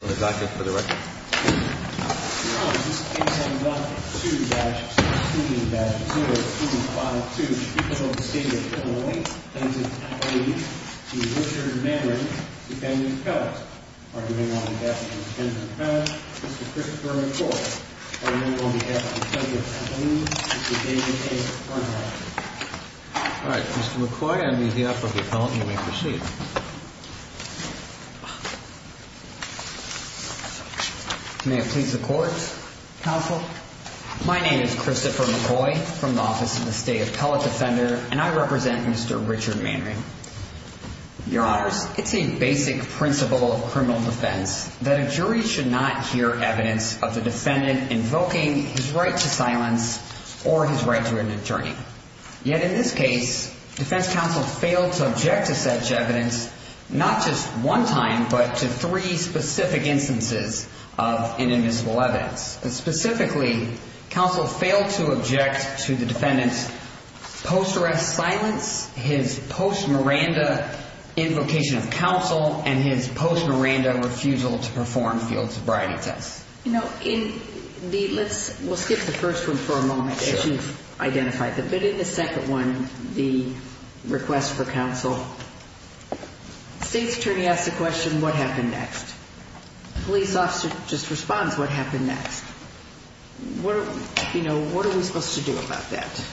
Mr. McCoy, on behalf of the Appellant, you may proceed. My name is Christopher McCoy, from the Office of the State Appellate Defender, and I represent Mr. Richard Manring. Your Honors, it's a basic principle of criminal defense that a jury should not hear evidence of the defendant invoking his right to silence or his right to an attorney. Yet, in this case, defense counsel failed to object to such evidence, not just one time, but to three specific instances of inadmissible evidence. Specifically, counsel failed to object to the defendant's post-arrest silence, his post-Miranda invocation of counsel, and his post-Miranda refusal to perform field sobriety tests. In the second case, the request for counsel, the State's attorney asks the question, what happened next? The police officer just responds, what happened next? What are we supposed to do about that?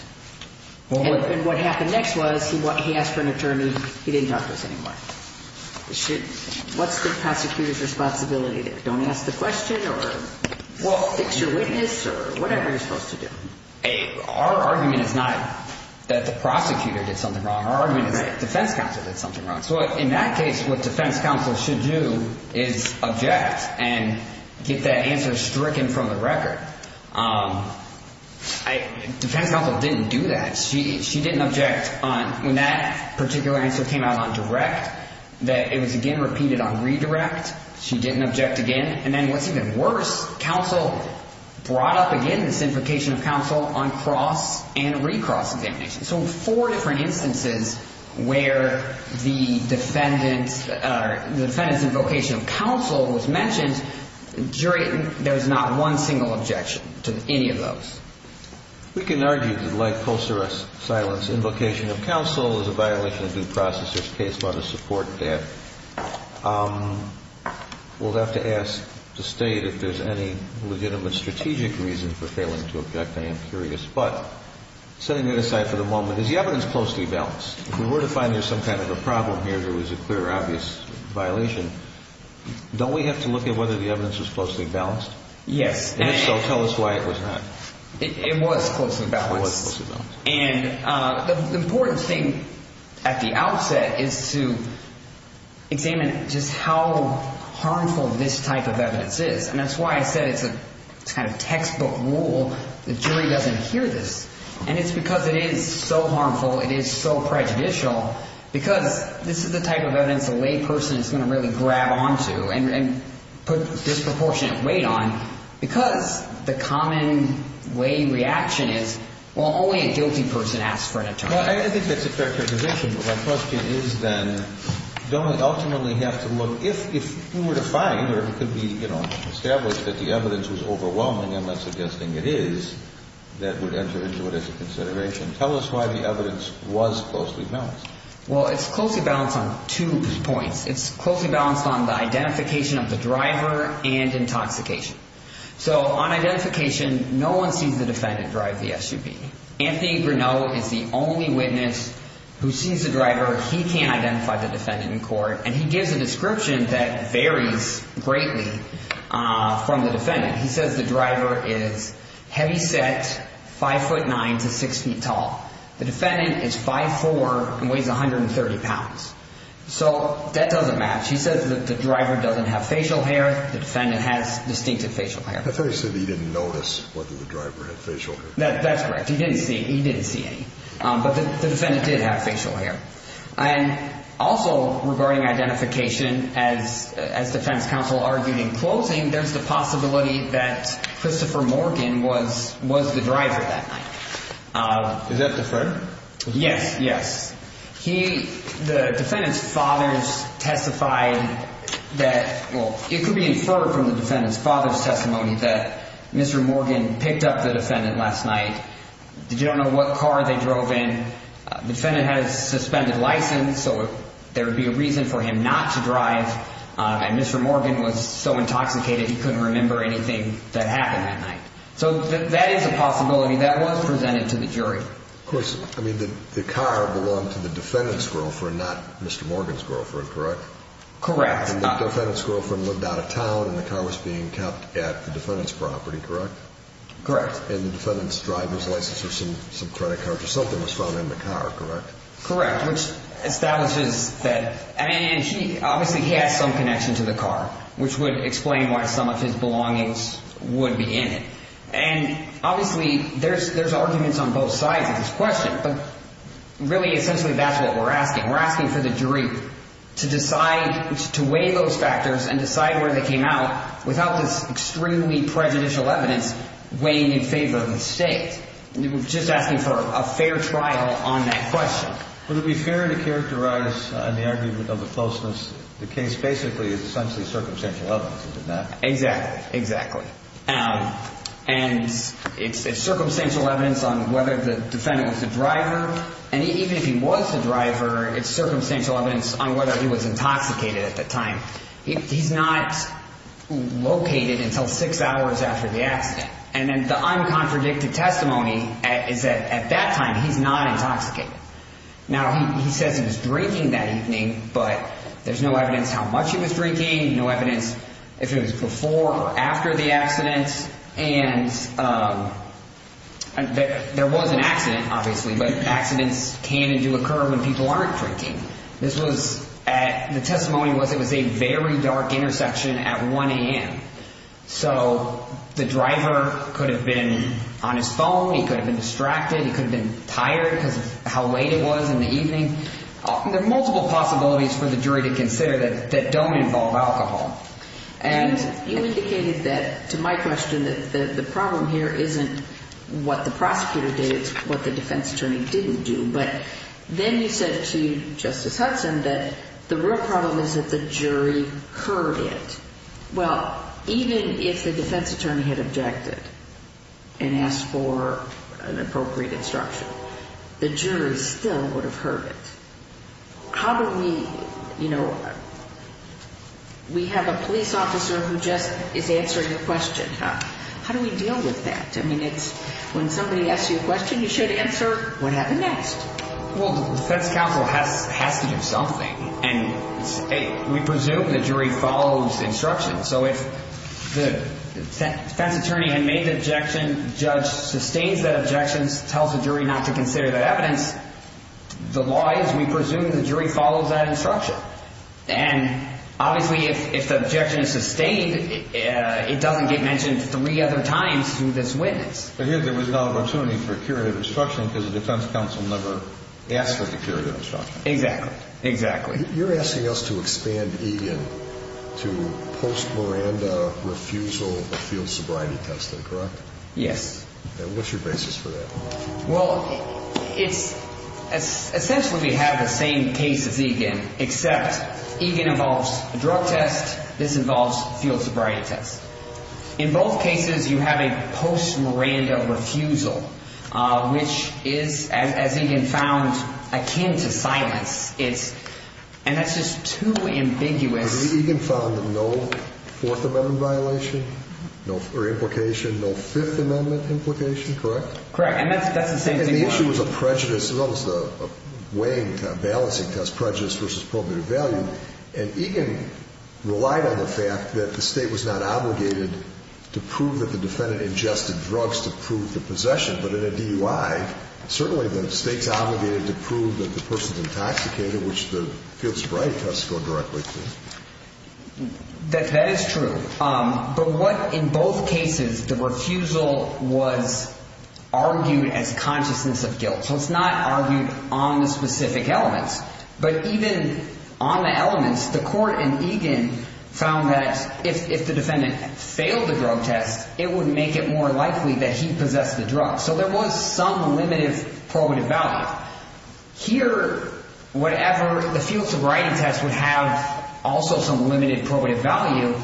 And what happened next was, he asked for an attorney, he didn't talk to us anymore. What's the prosecutor's responsibility there? Don't ask the question, or fix your witness, or whatever you're supposed to do. Our argument is not that the prosecutor did something wrong. Our argument is that defense counsel did something wrong. So in that case, what defense counsel should do is object and get that answer stricken from the record. Defense counsel didn't do that. She didn't object when that particular answer came out on direct, that it was again repeated on redirect. She didn't object again. And then what's even worse, counsel brought up again this invocation of counsel on cross and recross examination. So in four different instances where the defendant's invocation of counsel was mentioned, jury, there's not one single objection to any of those. We can argue that like post-arrest silence, invocation of counsel is a violation of due We'll have to ask the state if there's any legitimate strategic reason for failing to object. I am curious. But setting that aside for the moment, is the evidence closely balanced? If we were to find there's some kind of a problem here, if there was a clear, obvious violation, don't we have to look at whether the evidence was closely balanced? Yes. And if so, tell us why it was not. It was closely balanced. It was closely balanced. The important thing at the outset is to examine just how harmful this type of evidence is. And that's why I said it's a kind of textbook rule. The jury doesn't hear this. And it's because it is so harmful. It is so prejudicial. Because this is the type of evidence a lay person is going to really grab onto and put disproportionate weight on. Because the common way reaction is, well, only a guilty person asks for an attorney. Well, I think that's a fair characterization. But my question is then, don't we ultimately have to look, if we were to find or if it could be established that the evidence was overwhelming and not suggesting it is, that would enter into it as a consideration. Tell us why the evidence was closely balanced. Well, it's closely balanced on two points. It's closely balanced on the identification of the driver and intoxication. So on identification, no one sees the defendant drive the SUV. Anthony Bruneau is the only witness who sees the driver. He can't identify the defendant in court. And he gives a description that varies greatly from the defendant. He says the driver is heavyset, 5 foot 9 to 6 feet tall. The defendant is 5'4 and weighs 130 pounds. So that doesn't match. He says that the driver doesn't have facial hair. The defendant has distinctive facial hair. I thought he said he didn't notice whether the driver had facial hair. That's correct. He didn't see any. But the defendant did have facial hair. And also regarding identification, as defense counsel argued in closing, there's the possibility that Christopher Morgan was the driver that night. Is that the friend? Yes. Yes. The defendant's father testified that, well, it could be inferred from the defendant's father's testimony that Mr. Morgan picked up the defendant last night. Did you know what car they drove in? The defendant has a suspended license, so there would be a reason for him not to drive. And Mr. Morgan was so intoxicated, he couldn't remember anything that happened that night. So that is a possibility. That was presented to the jury. Of course, I mean, the car belonged to the defendant's girlfriend, not Mr. Morgan's girlfriend, correct? Correct. And the defendant's girlfriend lived out of town, and the car was being kept at the defendant's property, correct? Correct. And the defendant's driver's license or some credit card or something was found in the car, correct? Correct, which establishes that. And obviously he has some connection to the car, which would explain why some of his belongings would be in it. And obviously there's arguments on both sides of this question, but really essentially that's what we're asking. We're asking for the jury to decide to weigh those factors and decide where they came out without this extremely prejudicial evidence weighing in favor of the state. We're just asking for a fair trial on that question. Would it be fair to characterize the argument of the falseness? The case basically is essentially circumstantial evidence, isn't it? Exactly, exactly. And it's circumstantial evidence on whether the defendant was the driver, and even if he was the driver, it's circumstantial evidence on whether he was intoxicated at the time. He's not located until six hours after the accident. And then the uncontradicted testimony is that at that time he's not intoxicated. Now, he says he was drinking that evening, but there's no evidence how much he was drinking, no evidence if it was before or after the accident. And there was an accident, obviously, but accidents can and do occur when people aren't drinking. The testimony was it was a very dark intersection at 1 a.m. So the driver could have been on his phone, he could have been distracted, he could have been tired because of how late it was in the evening. There are multiple possibilities for the jury to consider that don't involve alcohol. And you indicated that, to my question, that the problem here isn't what the prosecutor did, it's what the defense attorney didn't do. But then you said to Justice Hudson that the real problem is that the jury heard it. Well, even if the defense attorney had objected and asked for an appropriate instruction, the jury still would have heard it. How do we, you know, we have a police officer who just is answering a question. How do we deal with that? I mean, it's when somebody asks you a question you should answer what happened next. Well, the defense counsel has to do something. And we presume the jury follows instructions. So if the defense attorney had made the objection, judge sustains that objection, tells the jury not to consider that evidence, the law is we presume the jury follows that instruction. And obviously if the objection is sustained, it doesn't get mentioned three other times through this witness. But here there was no opportunity for a curative instruction because the defense counsel never asked for the curative instruction. Exactly, exactly. You're asking us to expand Eagan to post-Miranda refusal of field sobriety testing, correct? Yes. And what's your basis for that? Well, it's essentially we have the same case as Eagan, except Eagan involves a drug test, this involves field sobriety tests. In both cases you have a post-Miranda refusal, which is, as Eagan found, akin to silence. And that's just too ambiguous. Eagan found no Fourth Amendment violation or implication, no Fifth Amendment implication, correct? Correct. And that's the same thing. And the issue is a prejudice, well, it's a weighing, balancing test, prejudice versus probative value. And Eagan relied on the fact that the State was not obligated to prove that the defendant ingested drugs to prove the possession. But in a DUI, certainly the State's obligated to prove that the person's intoxicated, which the field sobriety tests go directly to. That is true. But what in both cases, the refusal was argued as consciousness of guilt. So it's not argued on the specific elements. But even on the elements, the court in Eagan found that if the defendant failed the drug test, it would make it more likely that he possessed the drug. So there was some limited probative value. Here, whatever, the field sobriety test would have also some limited probative value.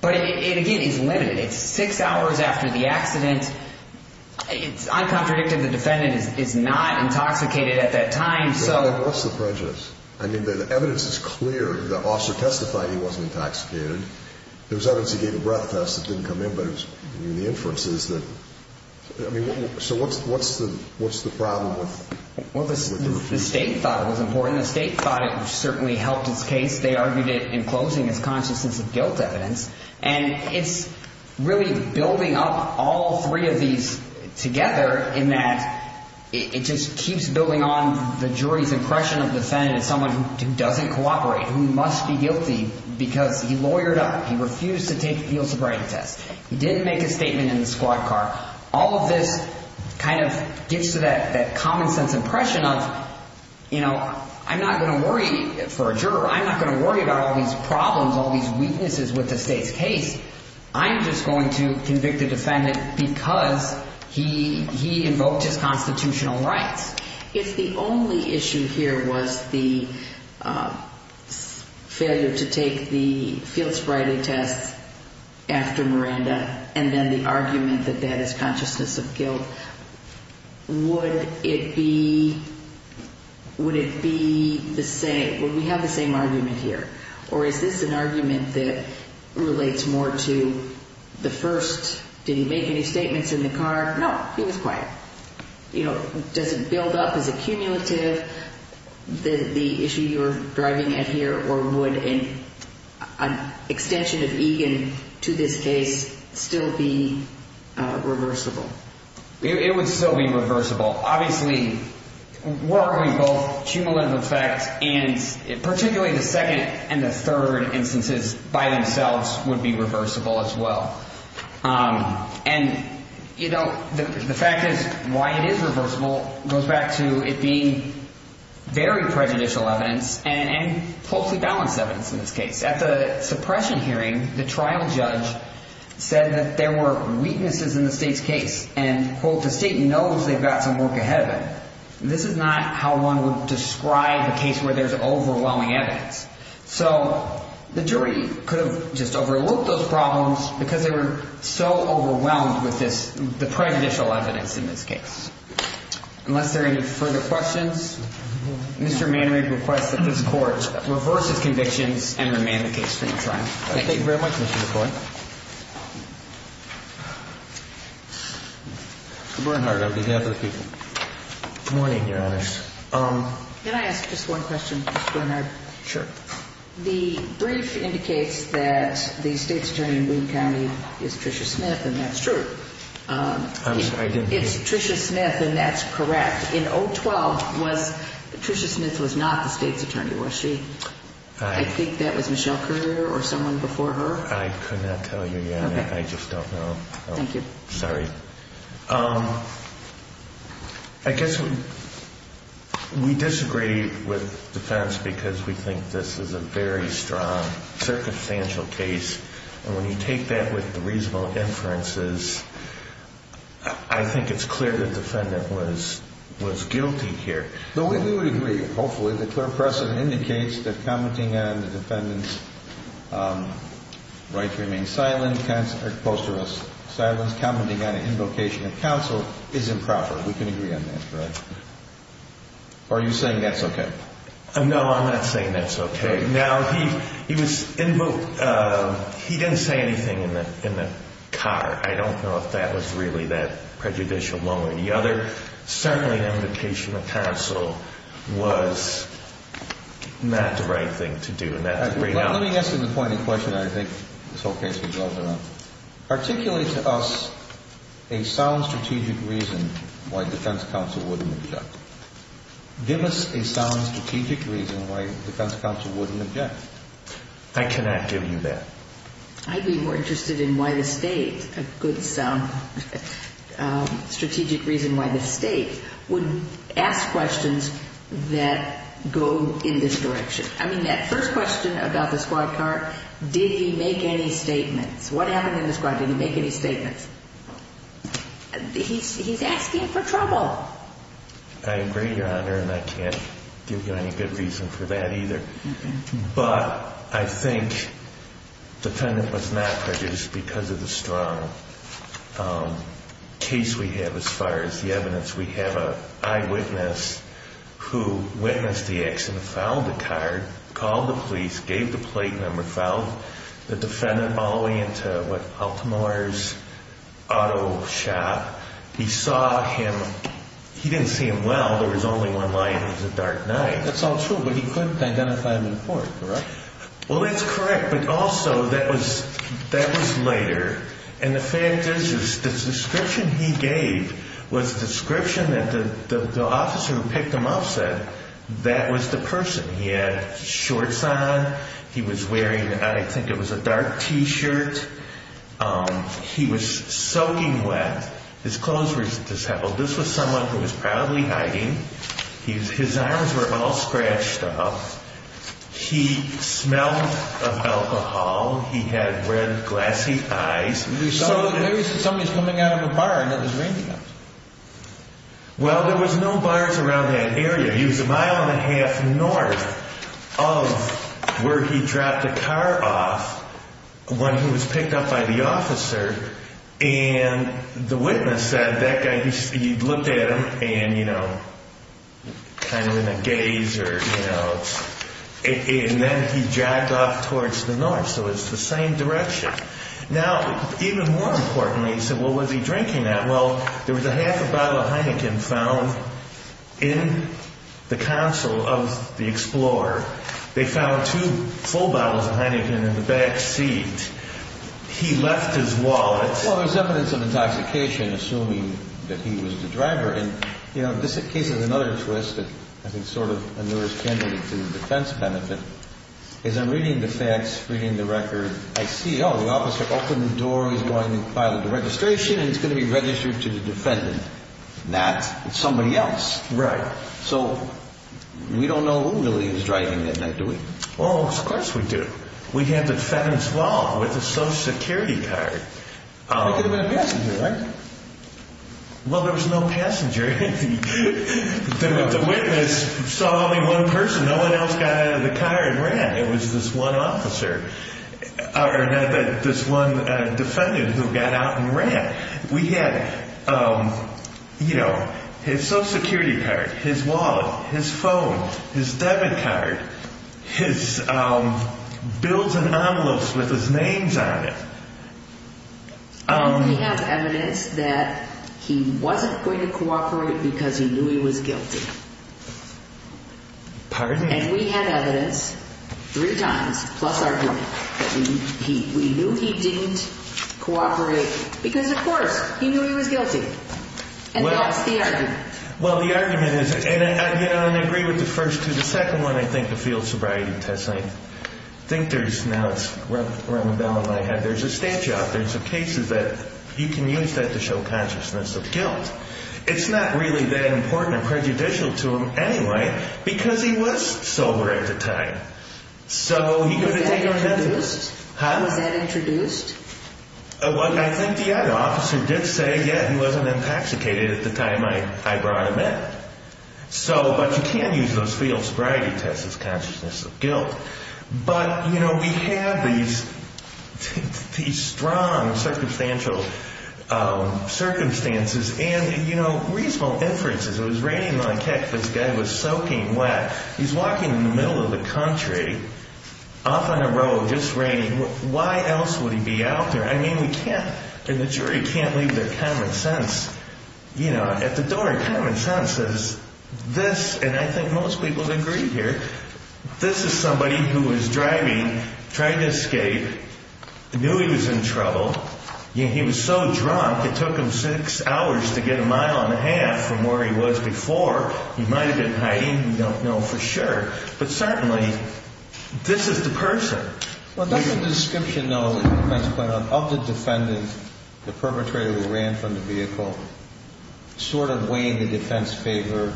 But it, again, is limited. It's six hours after the accident. It's uncontradictive. The defendant is not intoxicated at that time. So what's the prejudice? I mean, the evidence is clear. The officer testified he wasn't intoxicated. There was evidence he gave a breath test that didn't come in. But the inference is that, I mean, so what's the problem with the refusal? Well, the State thought it was important. The State thought it certainly helped its case. They argued it in closing as consciousness of guilt evidence. And it's really building up all three of these together in that it just keeps building on the jury's impression of the defendant as someone who doesn't cooperate, who must be guilty because he lawyered up. He refused to take the field sobriety test. He didn't make a statement in the squad car. All of this kind of gets to that common sense impression of, you know, I'm not going to worry for a juror. I'm not going to worry about all these problems, all these weaknesses with the State's case. I'm just going to convict the defendant because he invoked his constitutional rights. If the only issue here was the failure to take the field sobriety test after Miranda and then the argument that that is consciousness of guilt, would it be the same? Would we have the same argument here? Or is this an argument that relates more to the first, did he make any statements in the car? No, he was quiet. Does it build up as a cumulative, the issue you're driving at here? Or would an extension of Egan to this case still be reversible? It would still be reversible. Obviously, were we both cumulative effect and particularly the second and the third instances by themselves would be reversible as well. And, you know, the fact is why it is reversible goes back to it being very prejudicial evidence and closely balanced evidence in this case. At the suppression hearing, the trial judge said that there were weaknesses in the State's case and the State knows they've got some work ahead of it. This is not how one would describe a case where there's overwhelming evidence. So the jury could have just overlooked those problems because they were so overwhelmed with this, the prejudicial evidence in this case. Unless there are any further questions, Mr. Manory requests that this court reverse its convictions and remain the case for this trial. Thank you very much, Mr. McCoy. Good morning, Your Honors. The brief indicates that the State's attorney in Boone County is Tricia Smith, and that's true. It's Tricia Smith, and that's correct. In 012, Tricia Smith was not the State's attorney. Was she? I think that was Michelle Currier or someone before her. I could not tell you yet. I just don't know. Thank you. Sorry. I guess we disagree with defense because we think this is a very strong circumstantial case, and when you take that with reasonable inferences, I think it's clear the defendant was guilty here. No, we would agree. Hopefully the clear precedent indicates that commenting on the defendant's right to remain silent, postural silence, commenting on an invocation of counsel is improper. We can agree on that, correct? Or are you saying that's okay? No, I'm not saying that's okay. Now, he didn't say anything in the car. I don't know if that was really that prejudicial. Certainly an invocation of counsel was not the right thing to do, and that's a great honesty. Let me ask you the point in question that I think this whole case was well done on. Articulate to us a sound strategic reason why defense counsel wouldn't object. Give us a sound strategic reason why defense counsel wouldn't object. I cannot give you that. I'd be more interested in why the state, a good sound strategic reason why the state would ask questions that go in this direction. I mean, that first question about the squad car, did he make any statements? What happened in the squad? Did he make any statements? He's asking for trouble. I agree, Your Honor, and I can't give you any good reason for that either. But I think the defendant was not prejudiced because of the strong case we have as far as the evidence. We have an eyewitness who witnessed the accident, filed the card, called the police, gave the plate number, filed the defendant all the way into what, Baltimore's auto shop. He saw him. He didn't see him well. There was only one light. It was a dark night. That's all true, but he couldn't identify him in court, correct? Well, that's correct, but also that was later. And the fact is the description he gave was a description that the officer who picked him up said that was the person. He had shorts on. He was wearing, I think it was a dark T-shirt. He was soaking wet. His clothes were disheveled. This was someone who was probably hiding. His arms were all scratched up. He smelled of alcohol. He had red, glassy eyes. So maybe somebody was coming out of a bar and it was raining out. Well, there was no bars around that area. He was a mile and a half north of where he dropped the car off when he was picked up by the officer, and the witness said that guy, he looked at him and, you know, kind of in a gaze or, you know, and then he jogged off towards the north. So it was the same direction. Now, even more importantly, he said, well, was he drinking that? Well, there was a half a bottle of Heineken found in the console of the Explorer. They found two full bottles of Heineken in the back seat. He left his wallet. Well, there's evidence of intoxication, assuming that he was the driver. And, you know, this case has another twist that I think sort of allures candidates to the defense benefit. As I'm reading the facts, reading the record, I see, oh, the officer opened the door, he's going to file the registration, and it's going to be registered to the defendant. Not somebody else. Right. So we don't know who really is driving that night, do we? Well, of course we do. We have the defendant's wallet with a Social Security card. It could have been a passenger, right? Well, there was no passenger. The witness saw only one person. No one else got out of the car and ran. It was this one officer or this one defendant who got out and ran. We had, you know, his Social Security card, his wallet, his phone, his debit card, his bills and envelopes with his names on it. We have evidence that he wasn't going to cooperate because he knew he was guilty. Pardon me? And we have evidence three times, plus argument, that we knew he didn't cooperate because, of course, he knew he was guilty. And that's the argument. Well, the argument is, and I agree with the first two. The second one, I think, the field sobriety test, I think there's now it's around the balance I have. There's a statute. There's some cases that you can use that to show consciousness of guilt. It's not really that important and prejudicial to him anyway because he was sober at the time. So he could have taken it. Was that introduced? Well, I think the other officer did say, yeah, he wasn't intoxicated at the time I brought him in. But you can use those field sobriety tests as consciousness of guilt. But, you know, we have these strong circumstantial circumstances and, you know, reasonable inferences. It was raining like heck. This guy was soaking wet. He's walking in the middle of the country off on a road just raining. Why else would he be out there? I mean, we can't and the jury can't leave their common sense, you know, at the door. Common sense is this. And I think most people agree here. This is somebody who is driving, trying to escape, knew he was in trouble. He was so drunk it took him six hours to get a mile and a half from where he was before. He might have been hiding. We don't know for sure. But certainly this is the person. Well, that's a description, though, of the defendant, the perpetrator who ran from the vehicle, sort of weighing the defense in favor.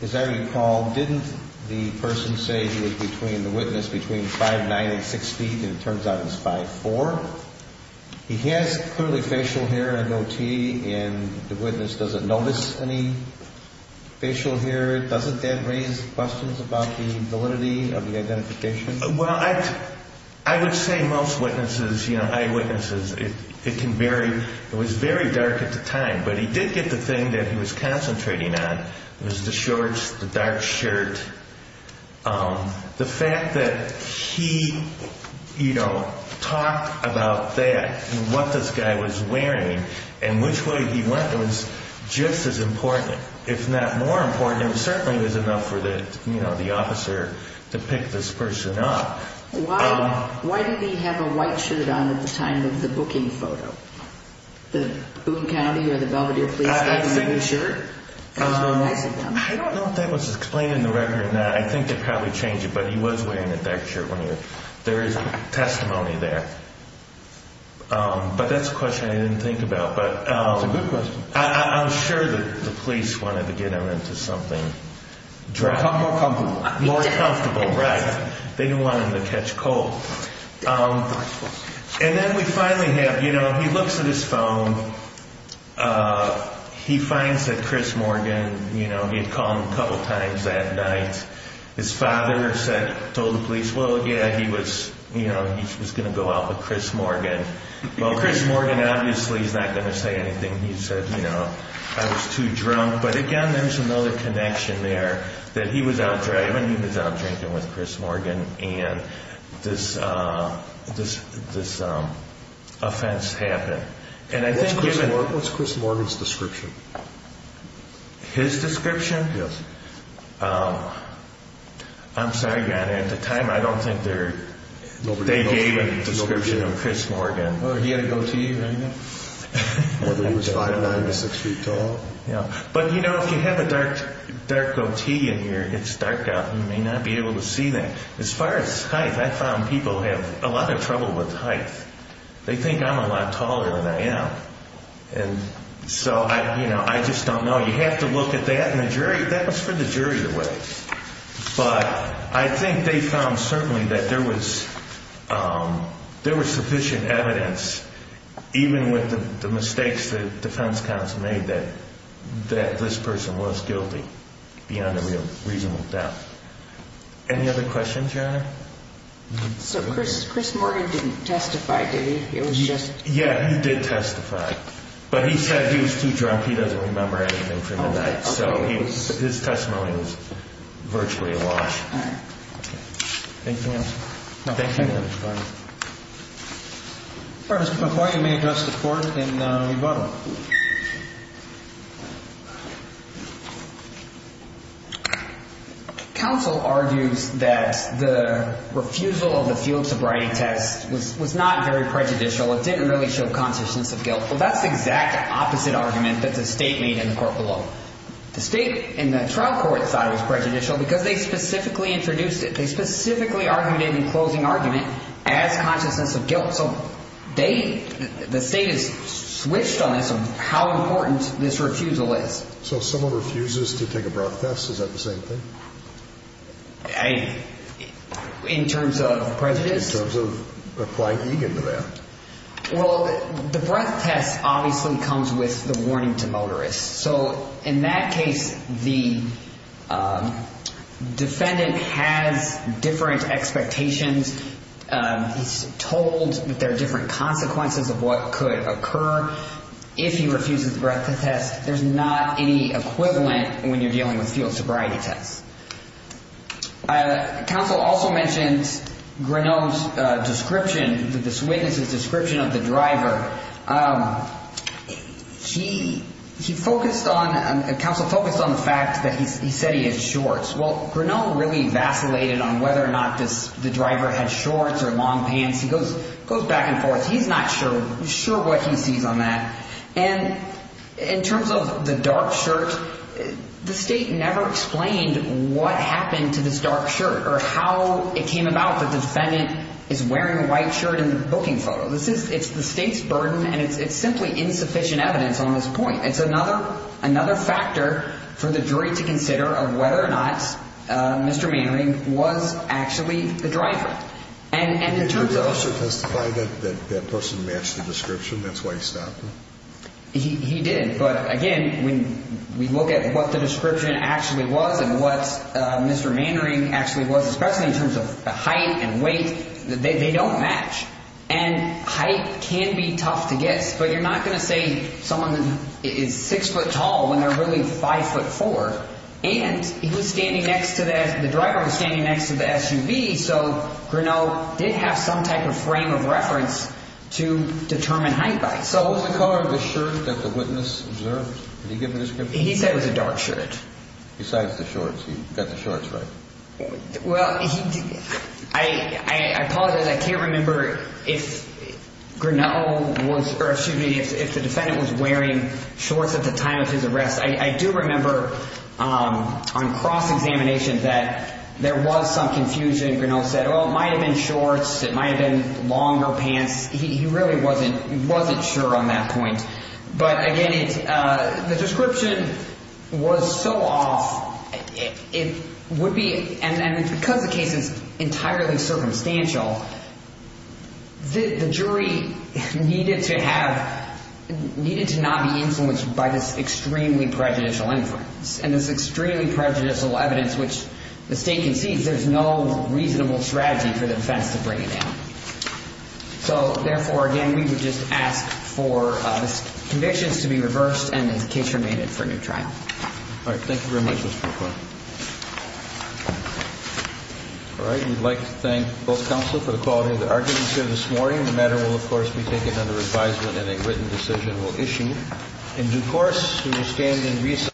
As I recall, didn't the person say he was between the witness between 5'9 and 6 feet? And it turns out it was 5'4. He has clearly facial hair and no teeth. And the witness doesn't notice any facial hair. Doesn't that raise questions about the validity of the identification? Well, I would say most witnesses, you know, eyewitnesses, it can vary. It was very dark at the time. But he did get the thing that he was concentrating on. It was the shorts, the dark shirt. The fact that he, you know, talked about that and what this guy was wearing and which way he went was just as important. If not more important, it certainly was enough for the officer to pick this person up. Why did he have a white shirt on at the time of the booking photo? The Boone County or the Belvedere Police Department shirt? I don't know if that was explained in the record. I think they probably changed it. But he was wearing a dark shirt when he was. There is testimony there. But that's a question I didn't think about. It's a good question. I'm sure the police wanted to get him into something. More comfortable. More comfortable, right. They didn't want him to catch cold. And then we finally have, you know, he looks at his phone. He finds that Chris Morgan, you know, he had called him a couple of times that night. His father said, told the police, well, yeah, he was, you know, he was going to go out with Chris Morgan. Well, Chris Morgan obviously is not going to say anything. He said, you know, I was too drunk. But, again, there's another connection there that he was out driving. He was out drinking with Chris Morgan. And this offense happened. And I think given. What's Chris Morgan's description? His description? Yes. I'm sorry, Your Honor. At the time, I don't think they gave a description of Chris Morgan. He had a goatee or anything? Whether he was five, nine, or six feet tall? Yeah. But, you know, if you have a dark goatee in here, it's dark out. You may not be able to see that. As far as height, I found people have a lot of trouble with height. They think I'm a lot taller than I am. And so, you know, I just don't know. You have to look at that. And the jury, that was for the jury to weigh. But I think they found certainly that there was sufficient evidence, even with the mistakes that defense counsel made, that this person was guilty beyond a real reasonable doubt. Any other questions, Your Honor? So Chris Morgan didn't testify, did he? Yeah, he did testify. But he said he was too drunk. He doesn't remember anything from the night. So his testimony was virtually a wash. All right. Thank you, Your Honor. Thank you, Your Honor. First, before you may address the Court in rebuttal. Counsel argues that the refusal of the field sobriety test was not very prejudicial. It didn't really show consciousness of guilt. Well, that's the exact opposite argument that the State made in the Court below. The State and the trial court thought it was prejudicial because they specifically introduced it. They specifically argued it in closing argument as consciousness of guilt. So the State has switched on this on how important this refusal is. So if someone refuses to take a breath test, is that the same thing? In terms of prejudice? In terms of applying eager to that. Well, the breath test obviously comes with the warning to motorists. So in that case, the defendant has different expectations. He's told that there are different consequences of what could occur if he refuses the breath test. There's not any equivalent when you're dealing with field sobriety tests. Counsel also mentions Grinnell's description, this witness's description of the driver. Counsel focused on the fact that he said he had shorts. Well, Grinnell really vacillated on whether or not the driver had shorts or long pants. He goes back and forth. He's not sure what he sees on that. And in terms of the dark shirt, the State never explained what happened to this dark shirt or how it came about that the defendant is wearing a white shirt in the booking photo. It's the State's burden, and it's simply insufficient evidence on this point. It's another factor for the jury to consider of whether or not Mr. Manning was actually the driver. Did the judge also testify that that person matched the description? That's why he stopped him? He did. But, again, when we look at what the description actually was and what Mr. Manning actually was, especially in terms of height and weight, they don't match. And height can be tough to guess, but you're not going to say someone is 6 foot tall when they're really 5 foot 4. And the driver was standing next to the SUV, so Grinnell did have some type of frame of reference to determine height by. What was the color of the shirt that the witness observed? Did he give a description? He said it was a dark shirt. Besides the shorts. He got the shorts right. Well, I apologize. I can't remember if Grinnell was, or excuse me, if the defendant was wearing shorts at the time of his arrest. I do remember on cross-examination that there was some confusion. Grinnell said, well, it might have been shorts. It might have been longer pants. He really wasn't sure on that point. But, again, the description was so off. And because the case is entirely circumstantial, the jury needed to not be influenced by this extremely prejudicial inference. And this extremely prejudicial evidence, which the state concedes there's no reasonable strategy for the defense to bring it down. So, therefore, again, we would just ask for the convictions to be reversed and the case remanded for a new trial. All right. Thank you very much, Mr. McCoy. All right. We'd like to thank both counsel for the quality of the arguments here this morning. The matter will, of course, be taken under advisement and a written decision will issue. In due course, we will stand in recess.